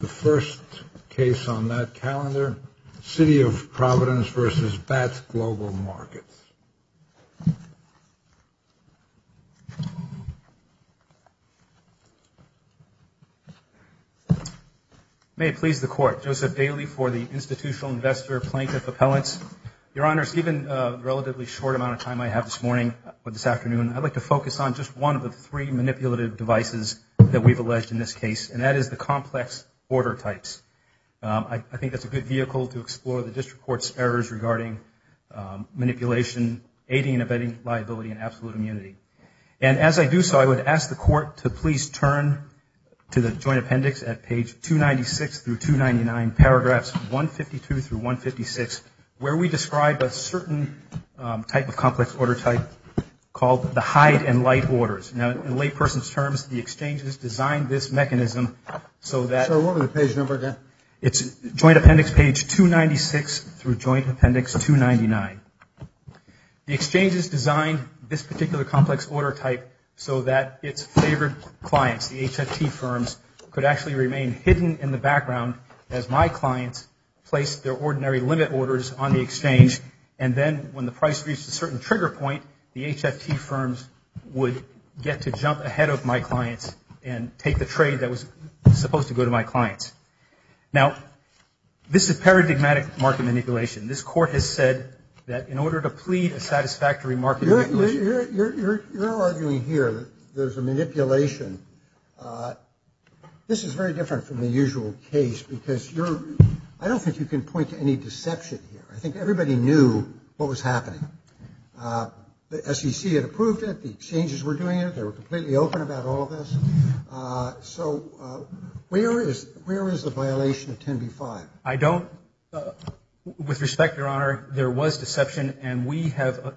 The first case on that calendar, City of Providence v. Batts Global Markets. May it please the Court, Joseph Daly for the Institutional Investor Plaintiff Appellants. Your Honors, given the relatively short amount of time I have this morning, or this afternoon, I'd like to focus on just one of the three manipulative devices that we've alleged in this case, and that is the complex order types. I think that's a good vehicle to explore the District Court's errors regarding manipulation, aiding and abetting liability, and absolute immunity. And as I do so, I would ask the Court to please turn to the Joint Appendix at page 296 through 299, paragraphs 152 through 156, where we describe a certain type of complex order type called the Hide and Light Orders. Now, in layperson's terms, the exchange has designed this mechanism so that... So, what was the page number again? It's Joint Appendix page 296 through Joint Appendix 299. The exchange has designed this particular complex order type so that its favored clients, the HFT firms, could actually remain hidden in the background as my clients place their ordinary limit orders on the exchange, and then when the price reached a certain trigger point, the HFT firms would get to jump ahead of my clients and take the trade that was supposed to go to my clients. Now, this is paradigmatic market manipulation. This Court has said that in order to plead a satisfactory market manipulation... You're arguing here that there's a manipulation. This is very different from the usual case because you're... I don't think you can point to any deception here. I think everybody knew what was happening. The SEC had approved it, the exchanges were doing it, they were completely open about all of this. So, where is the violation of 10b-5? I don't... With respect, Your Honor, there was deception and we have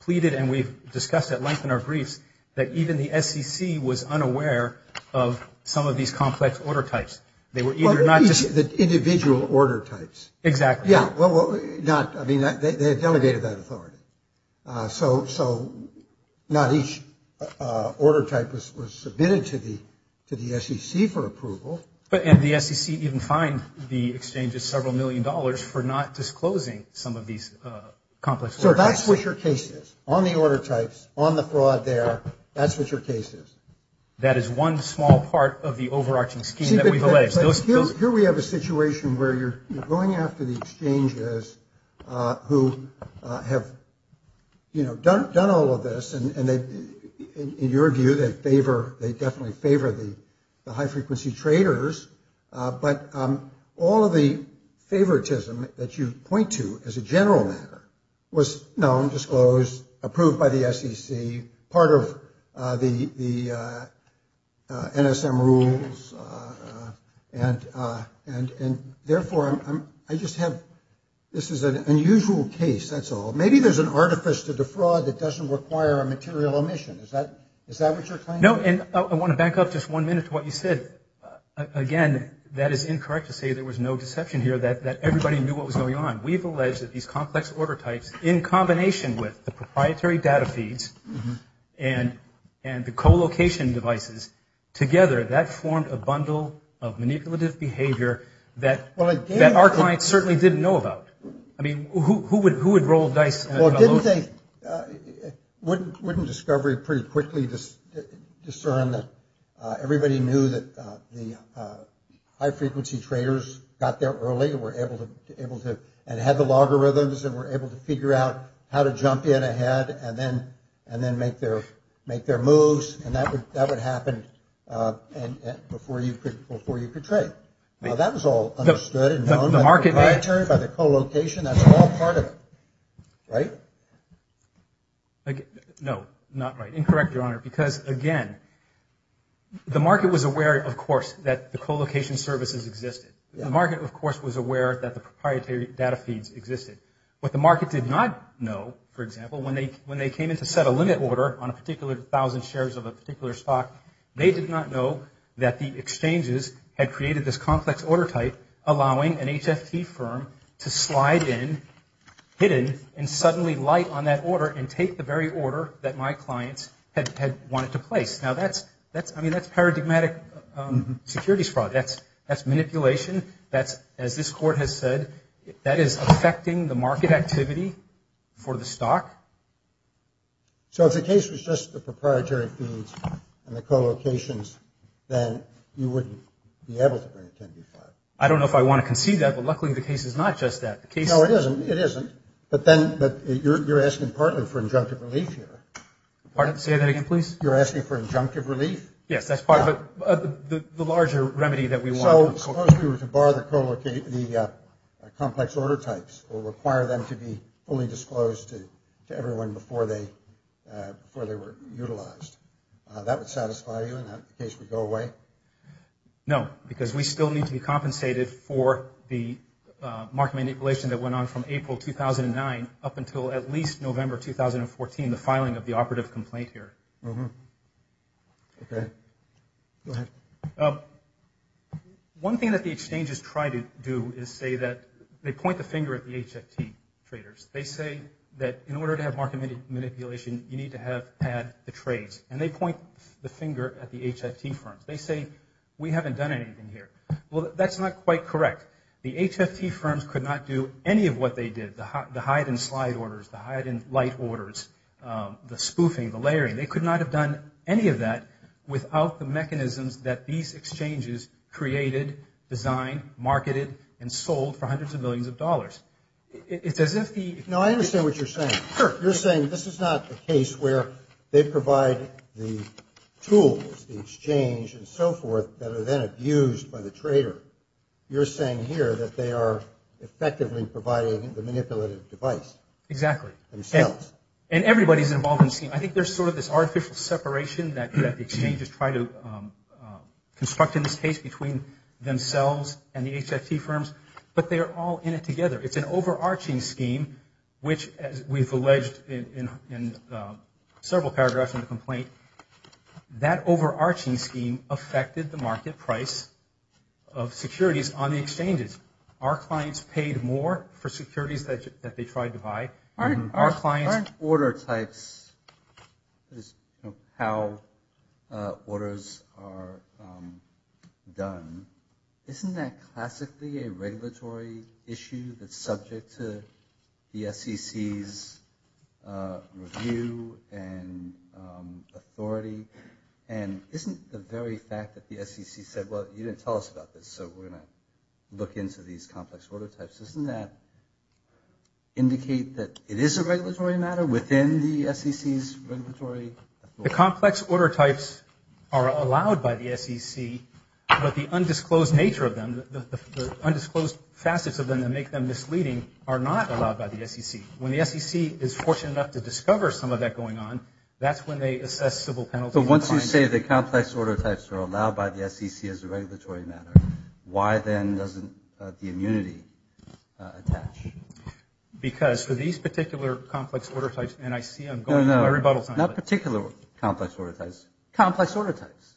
pleaded and we've discussed at length in our briefs that even the SEC was unaware of some of these complex order types. They were either not just... The individual order types. Exactly. Yeah, well, not... I mean, they had delegated that authority. So, not each order type was submitted to the SEC for approval. But the SEC even fined the exchanges several million dollars for not disclosing some of these complex... So, that's what your case is. On the order types, on the fraud there, that's what your case is. That is one small part of the overarching scheme that we've alleged. Here we have a situation where you're going after the exchanges who have, you know, done all of this and in your view, they favor, they definitely favor the high-frequency traders. But all of the favoritism that you point to as a general matter was known, disclosed, approved by the SEC, part of the NSM rules. And therefore, I just have... This is an unusual case, that's all. Maybe there's an artifice to the fraud that doesn't require a material omission. Is that what you're claiming? No, and I want to back up just one minute to what you said. Again, that is incorrect to say there was no deception here that everybody knew what was going on. We've alleged that these complex order types, in combination with the proprietary data feeds and the co-location devices, together that formed a bundle of manipulative behavior that our clients certainly didn't know about. I mean, who would roll dice? Well, didn't they... Wouldn't discovery pretty quickly discern that everybody knew that the high-frequency traders got there early and were able to... Figure out how to jump in ahead and then make their moves. And that would happen before you could trade. Now, that was all understood and known by the proprietary, by the co-location. That's all part of it, right? No, not right. Incorrect, Your Honor, because again, the market was aware, of course, that the co-location services existed. The market, of course, was aware that the proprietary data feeds existed. What the market did not know, for example, when they came in to set a limit order on a particular thousand shares of a particular stock, they did not know that the exchanges had created this complex order type, allowing an HFT firm to slide in, hidden, and suddenly light on that order and take the very order that my clients had wanted to place. Now, that's paradigmatic securities fraud. That's manipulation. That's, as this Court has said, that is affecting the market activity for the stock. So if the case was just the proprietary feeds and the co-locations, then you wouldn't be able to bring a 10-D5? I don't know if I want to concede that, but luckily the case is not just that. No, it isn't. But then you're asking partly for injunctive relief here. Pardon? Say that again, please? You're asking for injunctive relief? Yes, that's part of it. The larger remedy that we want... Suppose we were to bar the complex order types or require them to be fully disclosed to everyone before they were utilized. That would satisfy you and that case would go away? No, because we still need to be compensated for the market manipulation that went on from April 2009 up until at least November 2014, the filing of the operative complaint here. Okay. Go ahead. One thing that the exchanges try to do is say that... They point the finger at the HFT traders. They say that in order to have market manipulation, you need to have had the trades. And they point the finger at the HFT firms. They say, we haven't done anything here. Well, that's not quite correct. The HFT firms could not do any of what they did, the hide-and-slide orders, the hide-and-light orders, the spoofing, the layering. They could not have done any of that without the mechanisms that these exchanges created, designed, marketed, and sold for hundreds of millions of dollars. It's as if the... No, I understand what you're saying. Sure. You're saying this is not a case where they provide the tools, the exchange, and so forth that are then abused by the trader. You're saying here that they are effectively providing the manipulative device. Exactly. Themselves. And everybody's involved in... I think there's sort of this artificial separation that exchanges try to construct in this case between themselves and the HFT firms. But they are all in it together. It's an overarching scheme, which, as we've alleged in several paragraphs in the complaint, that overarching scheme affected the market price of securities on the exchanges. Our clients paid more for securities that they tried to buy. Aren't order types, how orders are done, isn't that classically a regulatory issue that's subject to the SEC's review and authority? And isn't the very fact that the SEC said, well, you didn't tell us about this, so we're going to look into these complex order types, doesn't that indicate that it is a regulatory matter within the SEC's regulatory authority? The complex order types are allowed by the SEC, but the undisclosed nature of them, the undisclosed facets of them that make them misleading are not allowed by the SEC. When the SEC is fortunate enough to discover some of that going on, that's when they assess civil penalties. So once you say the complex order types are allowed by the SEC as a regulatory matter, why then doesn't the immunity attach? Because for these particular complex order types, and I see I'm going through a rebuttal time. No, no, not particular complex order types. Complex order types.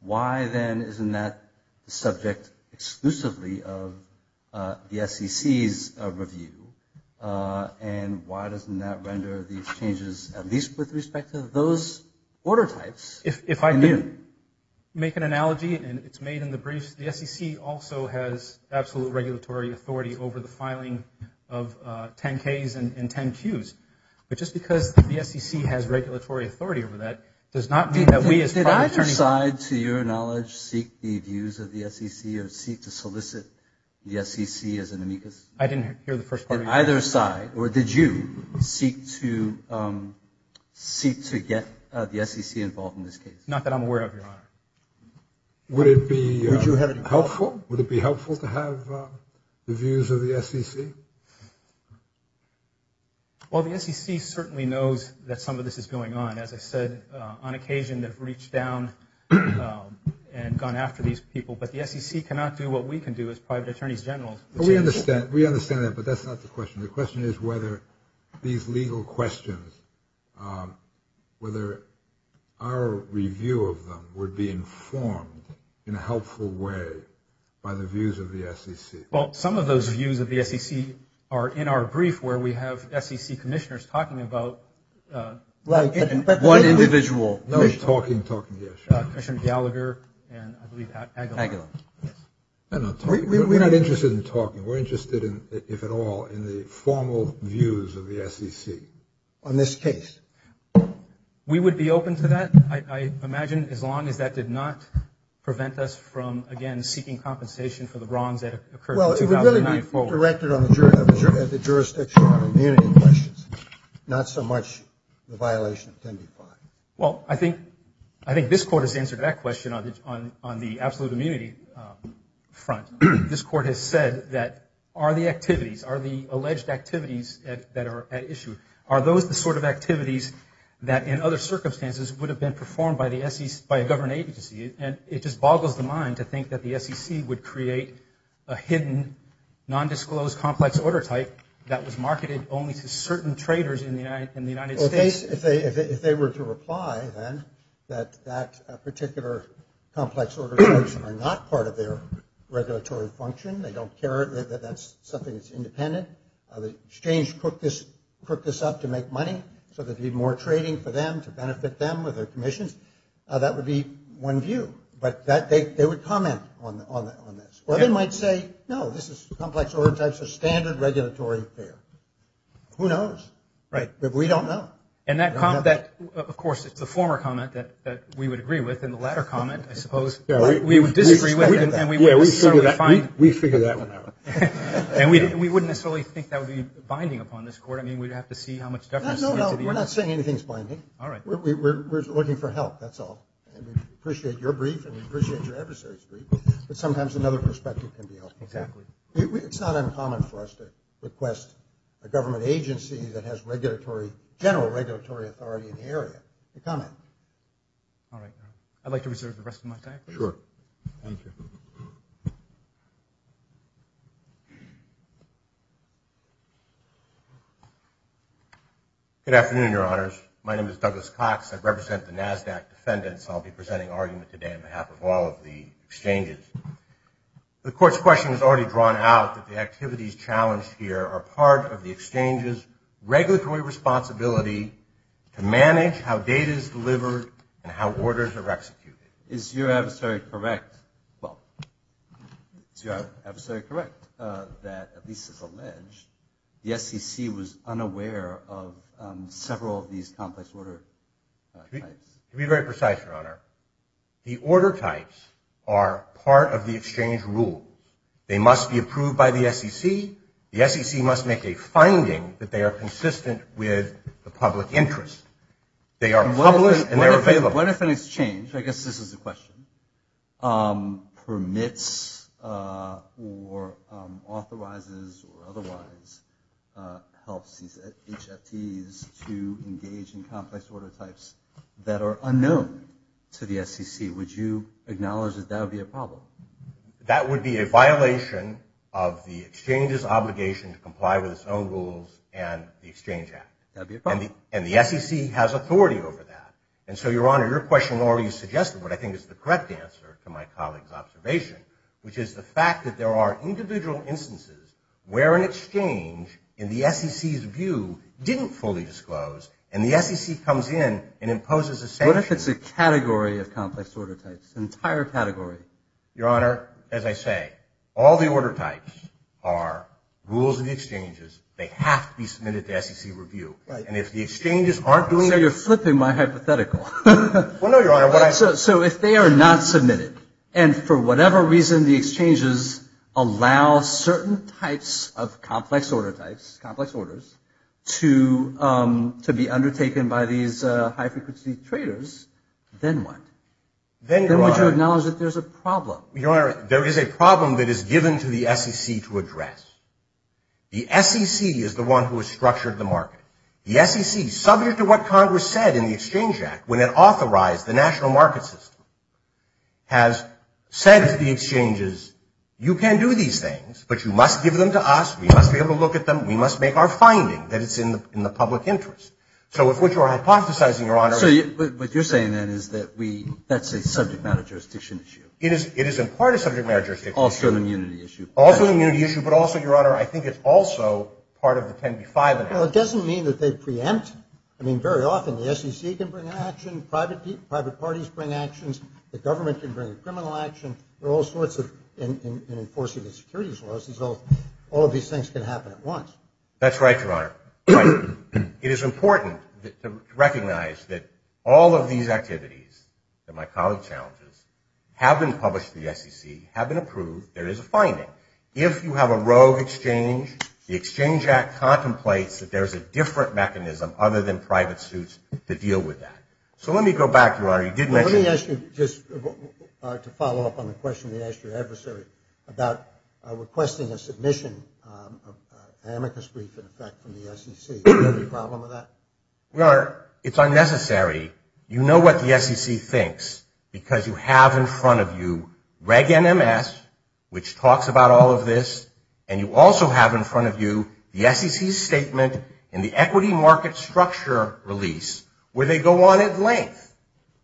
Why then isn't that subject exclusively of the SEC's review? And why doesn't that render these changes at least with respect to those order types? If I can make an analogy, and it's made in the brief, the SEC also has absolute regulatory authority over the filing of 10-Ks and 10-Qs. But just because the SEC has regulatory authority over that does not mean that we as private attorneys... Did either side, to your knowledge, seek the views of the SEC or seek to solicit the SEC as an amicus? I didn't hear the first part of your question. Did either side, or did you, seek to get the SEC involved in this case? Not that I'm aware of, Your Honor. Would it be helpful? Would it be helpful to have the views of the SEC? Well, the SEC certainly knows that some of this is going on. As I said, on occasion they've reached down and gone after these people. But the SEC cannot do what we can do as private attorneys general. We understand that, but that's not the question. The question is whether these legal questions, whether our review of them would be informed in a helpful way by the views of the SEC. Well, some of those views of the SEC are in our brief where we have SEC commissioners talking about... Like one individual. No, talking, talking, yes. Commissioner Gallagher and I believe Aguilar. Aguilar, yes. We're not interested in talking. We're interested, if at all, in the formal views of the SEC. On this case. We would be open to that, I imagine, as long as that did not prevent us from, again, seeking compensation for the wrongs that occurred... Well, it would really be directed at the jurisdiction on immunity questions. Not so much the violation of 10b-5. Well, I think this Court has answered that question on the absolute immunity front. This Court has said that are the activities, are the alleged activities that are at issue, are those the sort of activities that, in other circumstances, would have been performed by a government agency? And it just boggles the mind to think that the SEC would create a hidden, nondisclosed complex order type that was marketed only to certain traders in the United States. If they were to reply, then, that that particular complex order type are not part of their regulatory function, they don't care that that's something that's independent, the exchange cooked this up to make money so there'd be more trading for them, to benefit them with their commissions, that would be one view. But they would comment on this. Or they might say, no, this is complex order types of standard regulatory affair. Who knows? Right, but we don't know. And that, of course, it's the former comment that we would agree with, and the latter comment, I suppose, we would disagree with, and we would certainly find... We figure that one out. And we wouldn't necessarily think that would be binding upon this court. I mean, we'd have to see how much deference... No, no, no, we're not saying anything's binding. All right. We're looking for help, that's all. And we appreciate your brief, and we appreciate your adversary's brief, but sometimes another perspective can be helpful. Exactly. It's not uncommon for us to request a government agency that has regulatory, general regulatory authority in the area to comment. All right, I'd like to reserve the rest of my time. Sure. Thank you. Good afternoon, Your Honors. My name is Douglas Cox. I represent the NASDAQ defendants. I'll be presenting argument today on behalf of all of the exchanges. The court's question has already drawn out that the activities challenged here are part of the exchange's regulatory responsibility to manage how data is delivered and how orders are executed. Is your adversary correct... Well, is your adversary correct that, at least it's alleged, the SEC was unaware of several of these complex order types? To be very precise, Your Honor, the order types are part of the exchange rule. They must be approved by the SEC. The SEC must make a finding that they are consistent with the public interest. They are published and they're available. What if an exchange, I guess this is the question, permits or authorizes or otherwise helps these HFTs to engage in complex order types that are unknown to the SEC? Would you acknowledge that that would be a problem? That would be a violation of the exchange's obligation to comply with its own rules and the Exchange Act. That would be a problem. And the SEC has authority over that. And so, Your Honor, your question already suggested what I think is the correct answer to my colleague's observation, which is the fact that there are individual instances where an exchange in the SEC's view didn't fully disclose and the SEC comes in and imposes a sanction. What if it's a category of complex order types? An entire category? Your Honor, as I say, all the order types are rules of the exchanges. And if the exchanges aren't doing that... I know you're flipping my hypothetical. Well, no, Your Honor, what I... So if they are not submitted and for whatever reason the exchanges allow certain types of complex order types, complex orders, to be undertaken by these high-frequency traders, then what? Then, Your Honor... Then would you acknowledge that there's a problem? Your Honor, there is a problem that is given to the SEC to address. The SEC is the one who has structured the market. The SEC, subject to what Congress said in the Exchange Act, when it authorized the national market system, has said to the exchanges, you can do these things, but you must give them to us, we must be able to look at them, we must make our finding that it's in the public interest. So if what you are hypothesizing, Your Honor... So what you're saying then is that we... that's a subject matter jurisdiction issue. It is in part a subject matter jurisdiction issue. Also an immunity issue. Also an immunity issue, but also, Your Honor, I think it's also part of the 10b-5 enactment. Well, it doesn't mean that they preempt. I mean, very often the SEC can bring an action, private parties bring actions, the government can bring a criminal action, there are all sorts of... in enforcing the securities laws, all of these things can happen at once. That's right, Your Honor. It is important to recognize that all of these activities, that my colleague challenges, have been published to the SEC, have been approved, there is a finding. If you have a rogue exchange, the Exchange Act contemplates that there is a different mechanism other than private suits to deal with that. So let me go back, Your Honor. You did mention... Let me ask you just to follow up on the question you asked your adversary about requesting a submission of an amicus brief in effect from the SEC. Is there any problem with that? Your Honor, it's unnecessary. You know what the SEC thinks because you have in front of you Reg NMS, which talks about all of this, and you also have in front of you the SEC's statement in the equity market structure release where they go on at length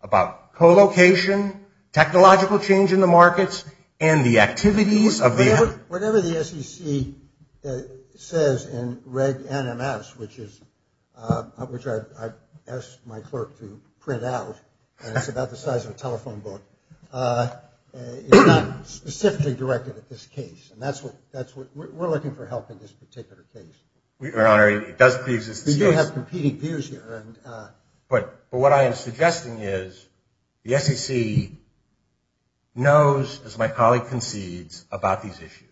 about co-location, technological change in the markets, and the activities of the... Whatever the SEC says in Reg NMS, which I've asked my clerk to print out, and it's about the size of a telephone book, is not specifically directed at this case. We're looking for help in this particular case. Your Honor, it does pre-exist this case. We do have competing peers here. But what I am suggesting is the SEC knows, as my colleague concedes, about these issues.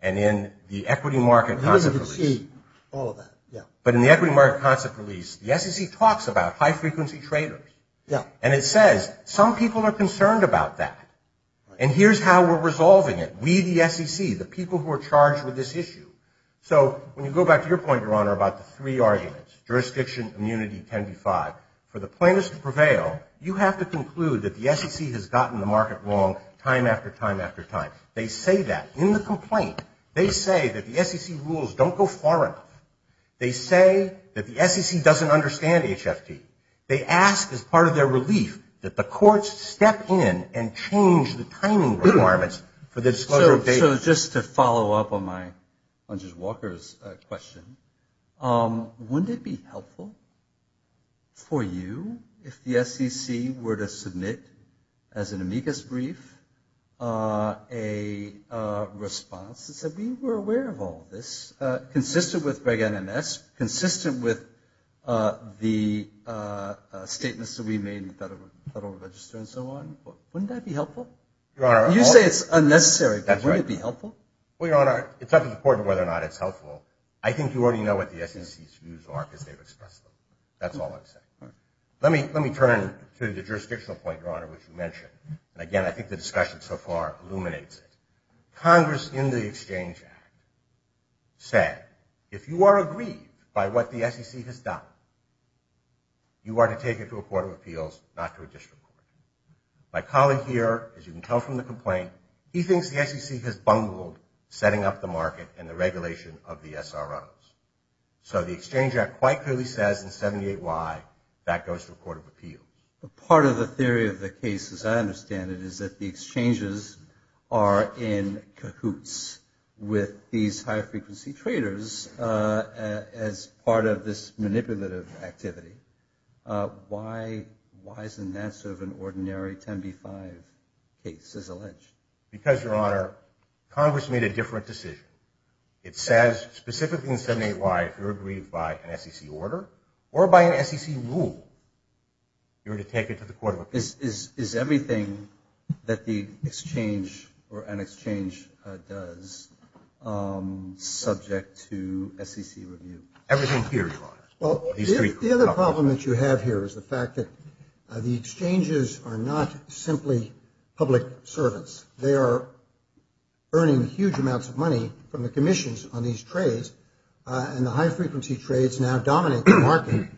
And in the equity market concept release... He doesn't concede all of that, yeah. But in the equity market concept release, the SEC talks about high-frequency traders. Yeah. And it says some people are concerned about that. And here's how we're resolving it. We, the SEC, the people who are charged with this issue... So, when you go back to your point, Your Honor, about the three arguments, jurisdiction, immunity, 10b-5, for the plaintiffs to prevail, you have to conclude that the SEC has gotten the market wrong time after time after time. They say that in the complaint. They say that the SEC rules don't go far enough. They say that the SEC doesn't understand HFT. They ask, as part of their relief, that the courts step in and change the timing requirements for the disclosure of data. So, just to follow up on Judge Walker's question, wouldn't it be helpful for you if the SEC were to submit, as an amicus brief, a response that said, we were aware of all this, consistent with Reg NMS, consistent with the statements that we made to the Federal Register and so on? Wouldn't that be helpful? You say it's unnecessary, but wouldn't it be helpful? Well, Your Honor, it's not as important as whether or not it's helpful. I think you already know what the SEC's views are because they've expressed them. That's all I'm saying. Let me turn to the jurisdictional point, Your Honor, which you mentioned. Again, I think the discussion so far illuminates it. Congress, in the Exchange Act, said, if you are agreed by what the SEC has done, you are to take it to a Court of Appeals, not to a district court. My colleague here, as you can tell from the complaint, he thinks the SEC has bungled setting up the market and the regulation of the SROs. So, the Exchange Act quite clearly says in 78Y, that goes to a Court of Appeals. Part of the theory of the case, as I understand it, is that the exchanges are in cahoots with these high-frequency traders as part of this manipulative process of activity. Why isn't that sort of an ordinary 10b-5 case as alleged? Because, Your Honor, Congress made a different decision. It says, specifically in 78Y, if you are agreed by an SEC order or by an SEC rule, you are to take it to the Court of Appeals. Is everything that the exchange or an exchange does subject to SEC review? Everything here, Your Honor. Well, the other problem that you have here is the fact that the exchanges are not simply public servants. They are earning huge amounts of money from the commissions on these trades and the high-frequency trades now dominate the market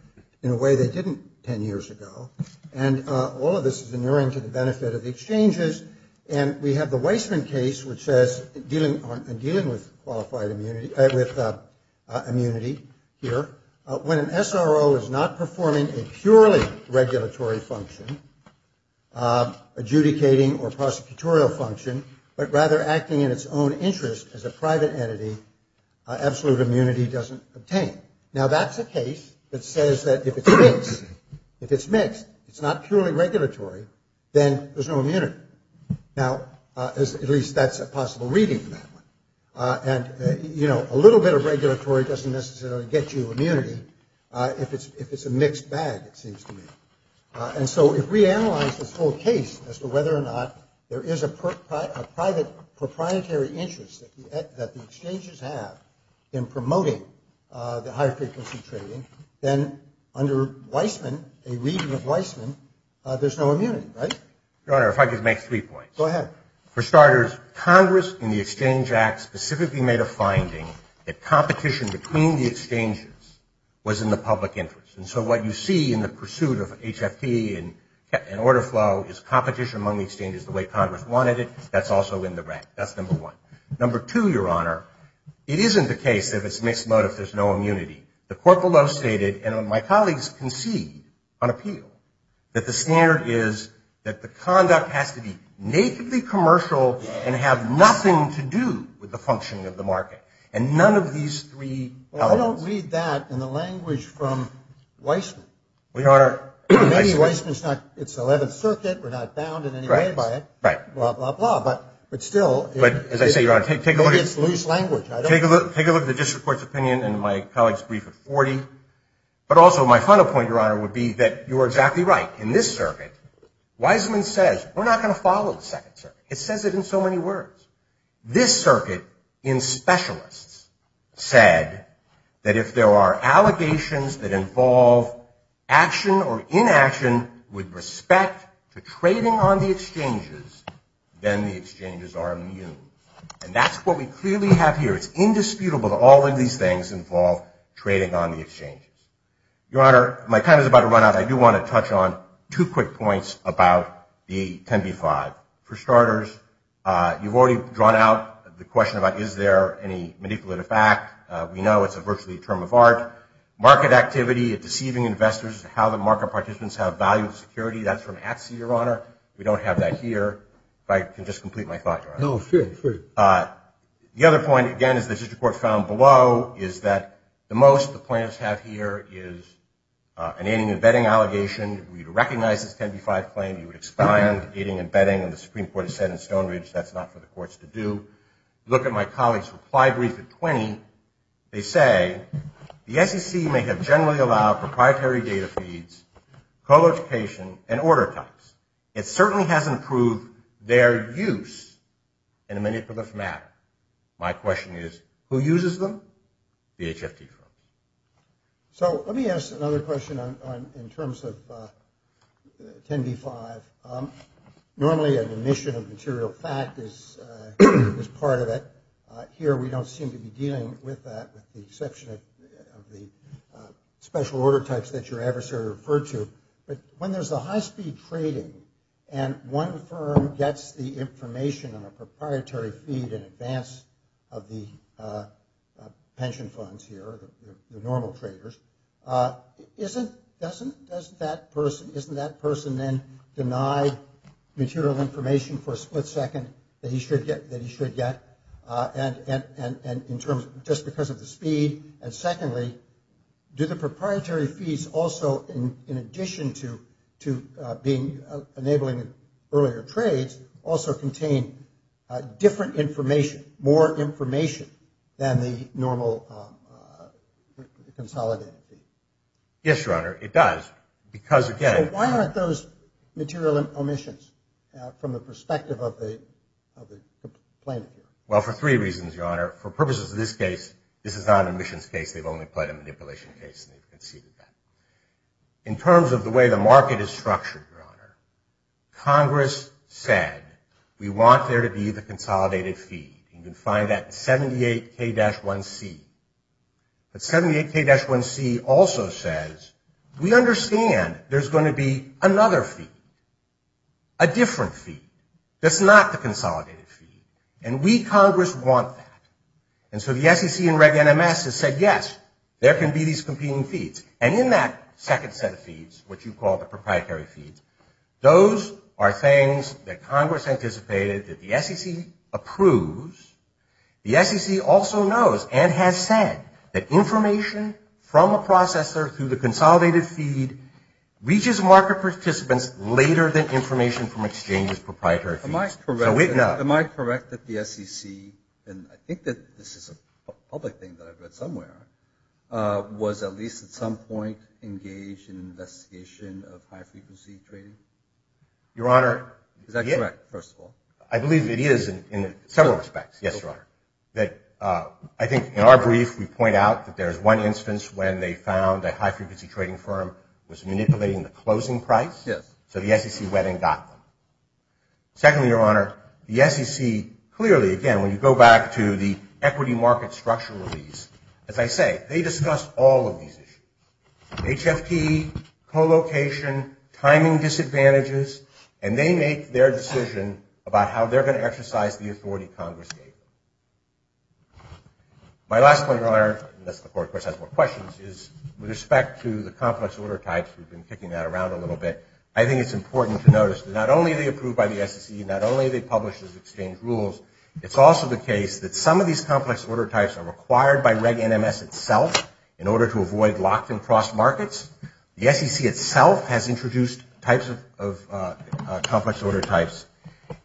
in a way they didn't 10 years ago and all of this is inherent to the benefit of the exchanges and we have the Weissman case which says dealing with qualified immunity with immunity here, when an SRO is not performing a purely regulatory function adjudicating or prosecutorial function, but rather acting in its own interest as a private entity, absolute immunity doesn't obtain. Now that's a case that says that if it's mixed if it's mixed, it's not purely regulatory, then there's no immunity. Now at least that's a possible reading and, you know, a little bit of regulatory doesn't necessarily get you immunity if it's a mixed bag, it seems to me and so if we analyze this whole case as to whether or not there is a private proprietary interest that the exchanges have in promoting the high-frequency trading then under Weissman a reading of Weissman there's no immunity, right? Your Honor, if I could make three points. Go ahead. For starters, Congress in the Exchange Act specifically made a finding that competition between the exchanges was in the public interest and so what you see in the pursuit of HFT and order flow is competition among the exchanges the way Congress wanted it, that's also in the rank, that's number one. Number two, Your Honor, it isn't the case that if it's mixed motive there's no immunity. The court below stated, and my colleagues concede on appeal that the standard is that the exchanges are commercial and have nothing to do with the function of the market and none of these three elements. Well, I don't read that in the language from Weissman. Maybe Weissman's not, it's the 11th Circuit, we're not bound in any way by it blah, blah, blah, but still, it's loose language. Take a look at the district court's opinion in my colleague's brief at 40, but also my final point, Your Honor, would be that you're exactly right in this circuit, Weissman says, we're not going to follow the second circuit, it says it in so many words. This circuit, in specialists said that if there are allegations that involve action or inaction with respect to trading on the exchanges then the exchanges are immune. And that's what we clearly have here, it's indisputable that all of these things involve trading on the exchanges. Your Honor, my time is about to run out, I do want to touch on two quick points about the 10b-5. For starters, you've already drawn out the question about is there any manipulative fact, we know it's virtually a term of art. Market activity deceiving investors, how the market participants have value security, that's from ATSI, Your Honor, we don't have that here. If I can just complete my thought, Your Honor. No, sure, sure. The other point, again, as the district court found below is that the most the plaintiffs have here is an aiding and abetting allegation where you'd recognize this 10b-5 claim, you would expand aiding and abetting, and the Supreme Court has said in Stone Ridge that's not for the courts to do. Look at my colleague's reply brief at 20, they say the SEC may have generally allowed proprietary data feeds, co-location, and order types. It certainly hasn't proved their use in a manipulative manner. My question is, who uses them? The HFT firm. So let me ask another question in terms of 10b-5. Normally an omission of material fact is part of it. Here we don't seem to be dealing with that with the exception of the special order types that your adversary referred to, but when there's a high speed trading and one firm gets the information on a proprietary feed in advance of the pension funds here, the normal traders, doesn't that person then deny material information for a split second that he should get and just because of the speed, and secondly, do the proprietary feeds also in addition to enabling earlier trades also contain different information, more than the normal consolidated feed? Yes, your honor, it does, because again Why aren't those material omissions from the perspective of the plaintiff here? Well, for three reasons, your honor. For purposes of this case, this is not an omissions case, they've only played a manipulation case and they've conceded that. In terms of the way the market is structured, your honor, Congress said, we want there to be the consolidated feed. You can find that in 78 K-1C. But 78 K-1C also says, we understand there's going to be another feed. A different feed that's not the consolidated feed. And we, Congress, want that. And so the SEC and Reg NMS have said, yes, there can be these competing feeds. And in that second set of feeds, what you call the proprietary feeds, those are things that Congress anticipated that the SEC approves. The SEC also knows and has said that information from a processor through the consolidated feed reaches market participants later than information from exchanges' proprietary feeds. Am I correct that the SEC, and I think that this is a public thing that I've read somewhere, was at least at some point engaged in an investigation of high frequency trading? Your honor, is that correct, first of all? I believe it is in several respects. Yes, your honor. I think in our brief, we point out that there's one instance when they found a high frequency trading firm was manipulating the closing price, so the SEC went and got them. Secondly, your honor, the SEC clearly, again, when you go back to the equity market structure release, as I say, they discussed all of these issues. HFT, co-location, timing disadvantages, and they make their decision about how they're going to exercise the authority Congress gave them. My last point, your honor, unless the court has more questions, is with respect to the complex order types, we've been kicking that around a little bit, I think it's important to notice that not only are they approved by the SEC, not only are they published as exchange rules, it's also the case that some of these complex order types are required by Reg NMS itself in order to avoid locked and crossed markets. The SEC itself has introduced types of complex order types,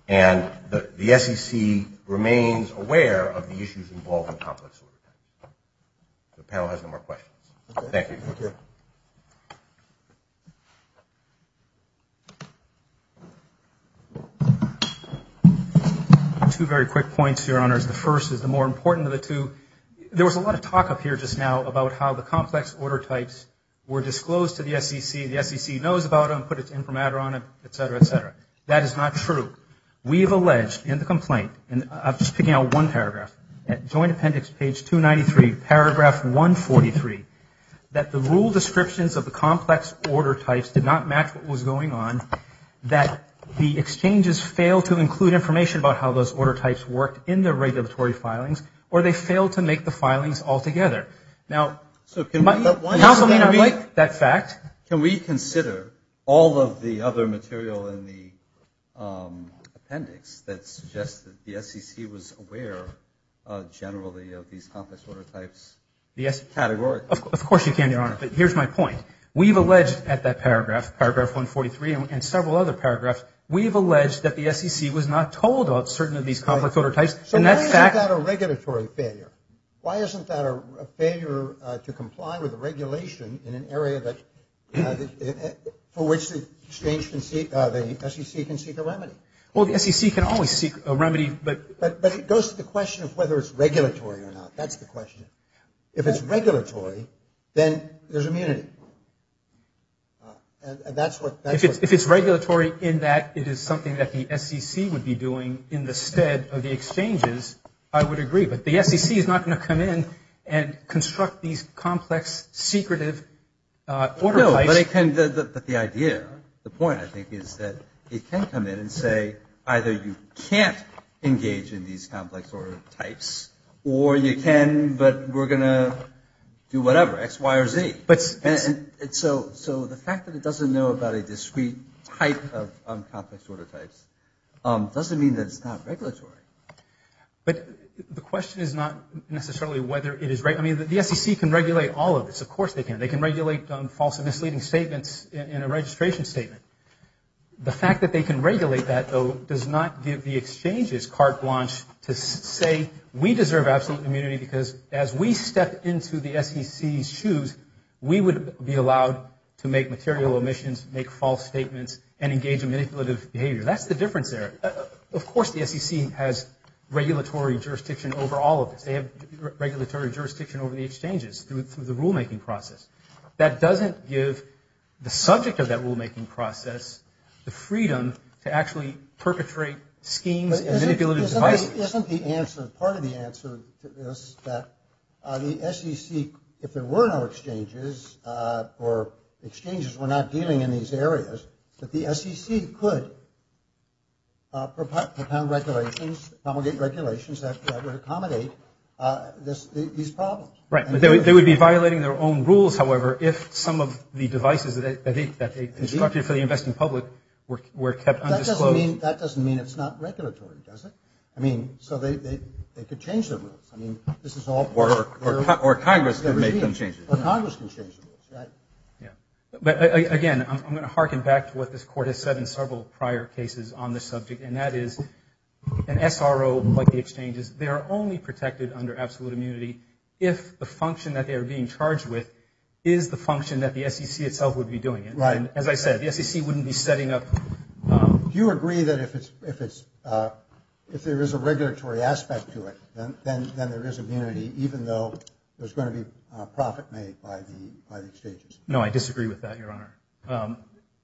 and the SEC remains aware of the issues involved in complex order types. The panel has no more questions. Thank you. Two very quick points, your honors. The first is the more important of the two. There was a lot of talk up here just now about how the complex order types were disclosed to the SEC, the SEC knows about them, put its informatter on them, etc., etc. That is not true. We have alleged in the complaint, and I'm just picking out one paragraph, at Joint Appendix page 293, paragraph 143, that the rule descriptions of the complex order types did not match what was going on, that the exchanges failed to include information about how those order types worked in the regulatory filings, or they failed to make the filings altogether. Now, counsel may not like that fact. Can we consider all of the other material in the appendix that suggests that the SEC was aware generally of these complex order types, categorically? Of course you can, your honor, but here's my point. We've alleged at that paragraph, paragraph 143, and several other paragraphs, we've alleged that the SEC was not told of certain of these complex order types. So why isn't that a regulatory failure? Why isn't that a failure to comply with the regulation in an area that, for which the SEC can seek a remedy? Well, the SEC can always seek a remedy, but... But it goes to the question of whether it's regulatory or not. That's the question. If it's regulatory, then there's immunity. And that's what... If it's regulatory in that it is something that the SEC would be doing in the stead of the exchanges, I would agree. But the SEC is not going to come in and construct these complex, secretive order types... No, but it can... But the idea, the point, I think, is that it can come in and say either you can't engage in these complex order types, or you can, but we're going to do whatever, X, Y, or Z. So the fact that it doesn't know about a discrete type of complex order types doesn't mean that it's not regulatory. But the question is not necessarily whether it is... I mean, the SEC can regulate all of this. Of course they can. They can regulate false and misleading statements in a registration statement. The fact that they can regulate that, though, does not give the exchanges carte blanche to say, we deserve absolute immunity because as we step into the SEC's shoes, we would be allowed to make material omissions, make false statements, and engage in manipulative behavior. That's the difference there. Of course the SEC has regulatory jurisdiction over all of this. They have regulatory jurisdiction over the exchanges through the rulemaking process. That doesn't give the subject of that rulemaking process the freedom to actually perpetrate schemes and manipulative devices. But isn't the answer, part of the answer to this that the SEC, if there were no exchanges, or exchanges were not dealing in these areas, that the SEC could propound regulations, promulgate regulations that would accommodate these problems. Right, but they would be violating their own rules, however, if some of the devices that they constructed for the investing public were kept undisclosed. That doesn't mean it's not regulatory, does it? I mean, so they could change their rules. I mean, this is all part of... Or Congress can make them change the rules. Or Congress can change the rules. But again, I'm going to harken back to what this Court has said in several prior cases on this subject, and that is, an SRO like the exchanges, they are only protected under absolute immunity if the function that they are being charged with is the function that the SEC itself would be doing. And as I said, the SEC wouldn't be setting up... Do you agree that if it's... if there is a regulatory aspect to it, then there is immunity even though there's going to be by the exchanges? No, I disagree with that, Your Honor.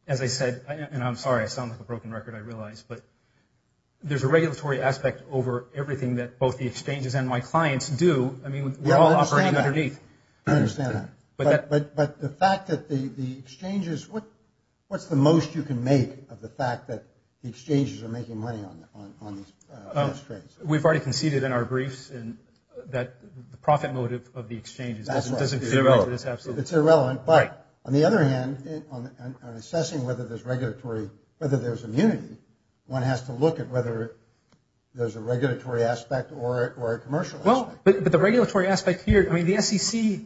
As I said, and I'm sorry, I sound like a broken record, I realize, but there's a regulatory aspect over everything that both the exchanges and my clients do. I mean, we're all operating underneath. I understand that. But the fact that the exchanges... What's the most you can make of the fact that the exchanges are making money on these trades? We've already conceded in our briefs that the profit motive of the exchanges is irrelevant. It's irrelevant, but on the other hand, on assessing whether there's regulatory... whether there's immunity, one has to look at whether there's a regulatory aspect or a commercial aspect. Well, but the regulatory aspect here, I mean, the SEC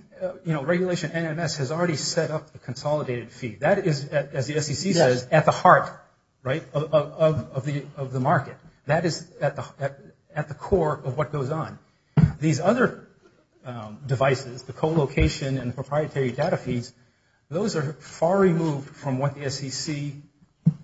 regulation NMS has already set up a consolidated fee. That is, as the SEC says, at the heart of the market. That is at the core of what goes on. These other devices, the co-location and the proprietary data fees, those are far removed from what the SEC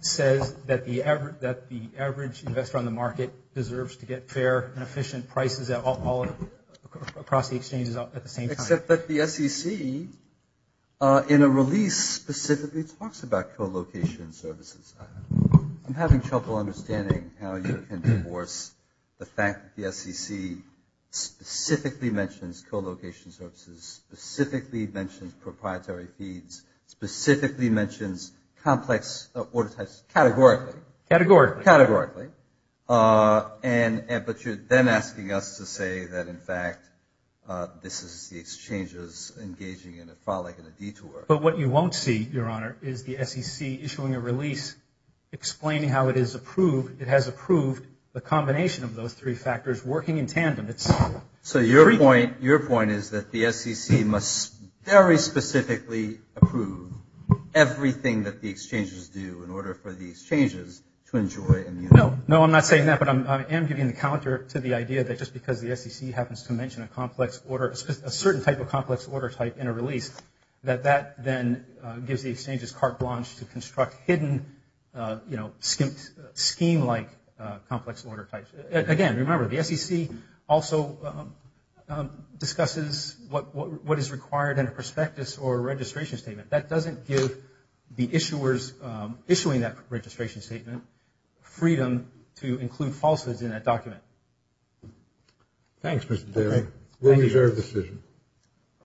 says that the average investor on the market deserves to get fair and efficient prices across the exchanges at the same time. Except that the SEC in a release specifically talks about co-location services. I'm having trouble understanding how you can divorce the fact that the SEC specifically mentions co-location services, specifically mentions proprietary fees, specifically mentions complex order types categorically. Categorically. Categorically. But you're then asking us to say that, in fact, this is the exchanges engaging in a frolic and a detour. But what you won't see, Your Honor, is the SEC issuing a release explaining how it is approved... Those three factors working in tandem. So your point is that the SEC must very specifically approve everything that the exchanges do in order for the exchanges to enjoy and... No, I'm not saying that, but I am giving the counter to the idea that just because the SEC happens to mention a certain type of complex order type in a release, that that then gives the exchanges carte blanche to construct hidden scheme-like complex order types. Again, remember, the SEC also discusses what is required in a prospectus or registration statement. That doesn't give the issuers issuing that registration statement freedom to include falses in that document. Thanks, Mr. Taylor. We'll use our decision.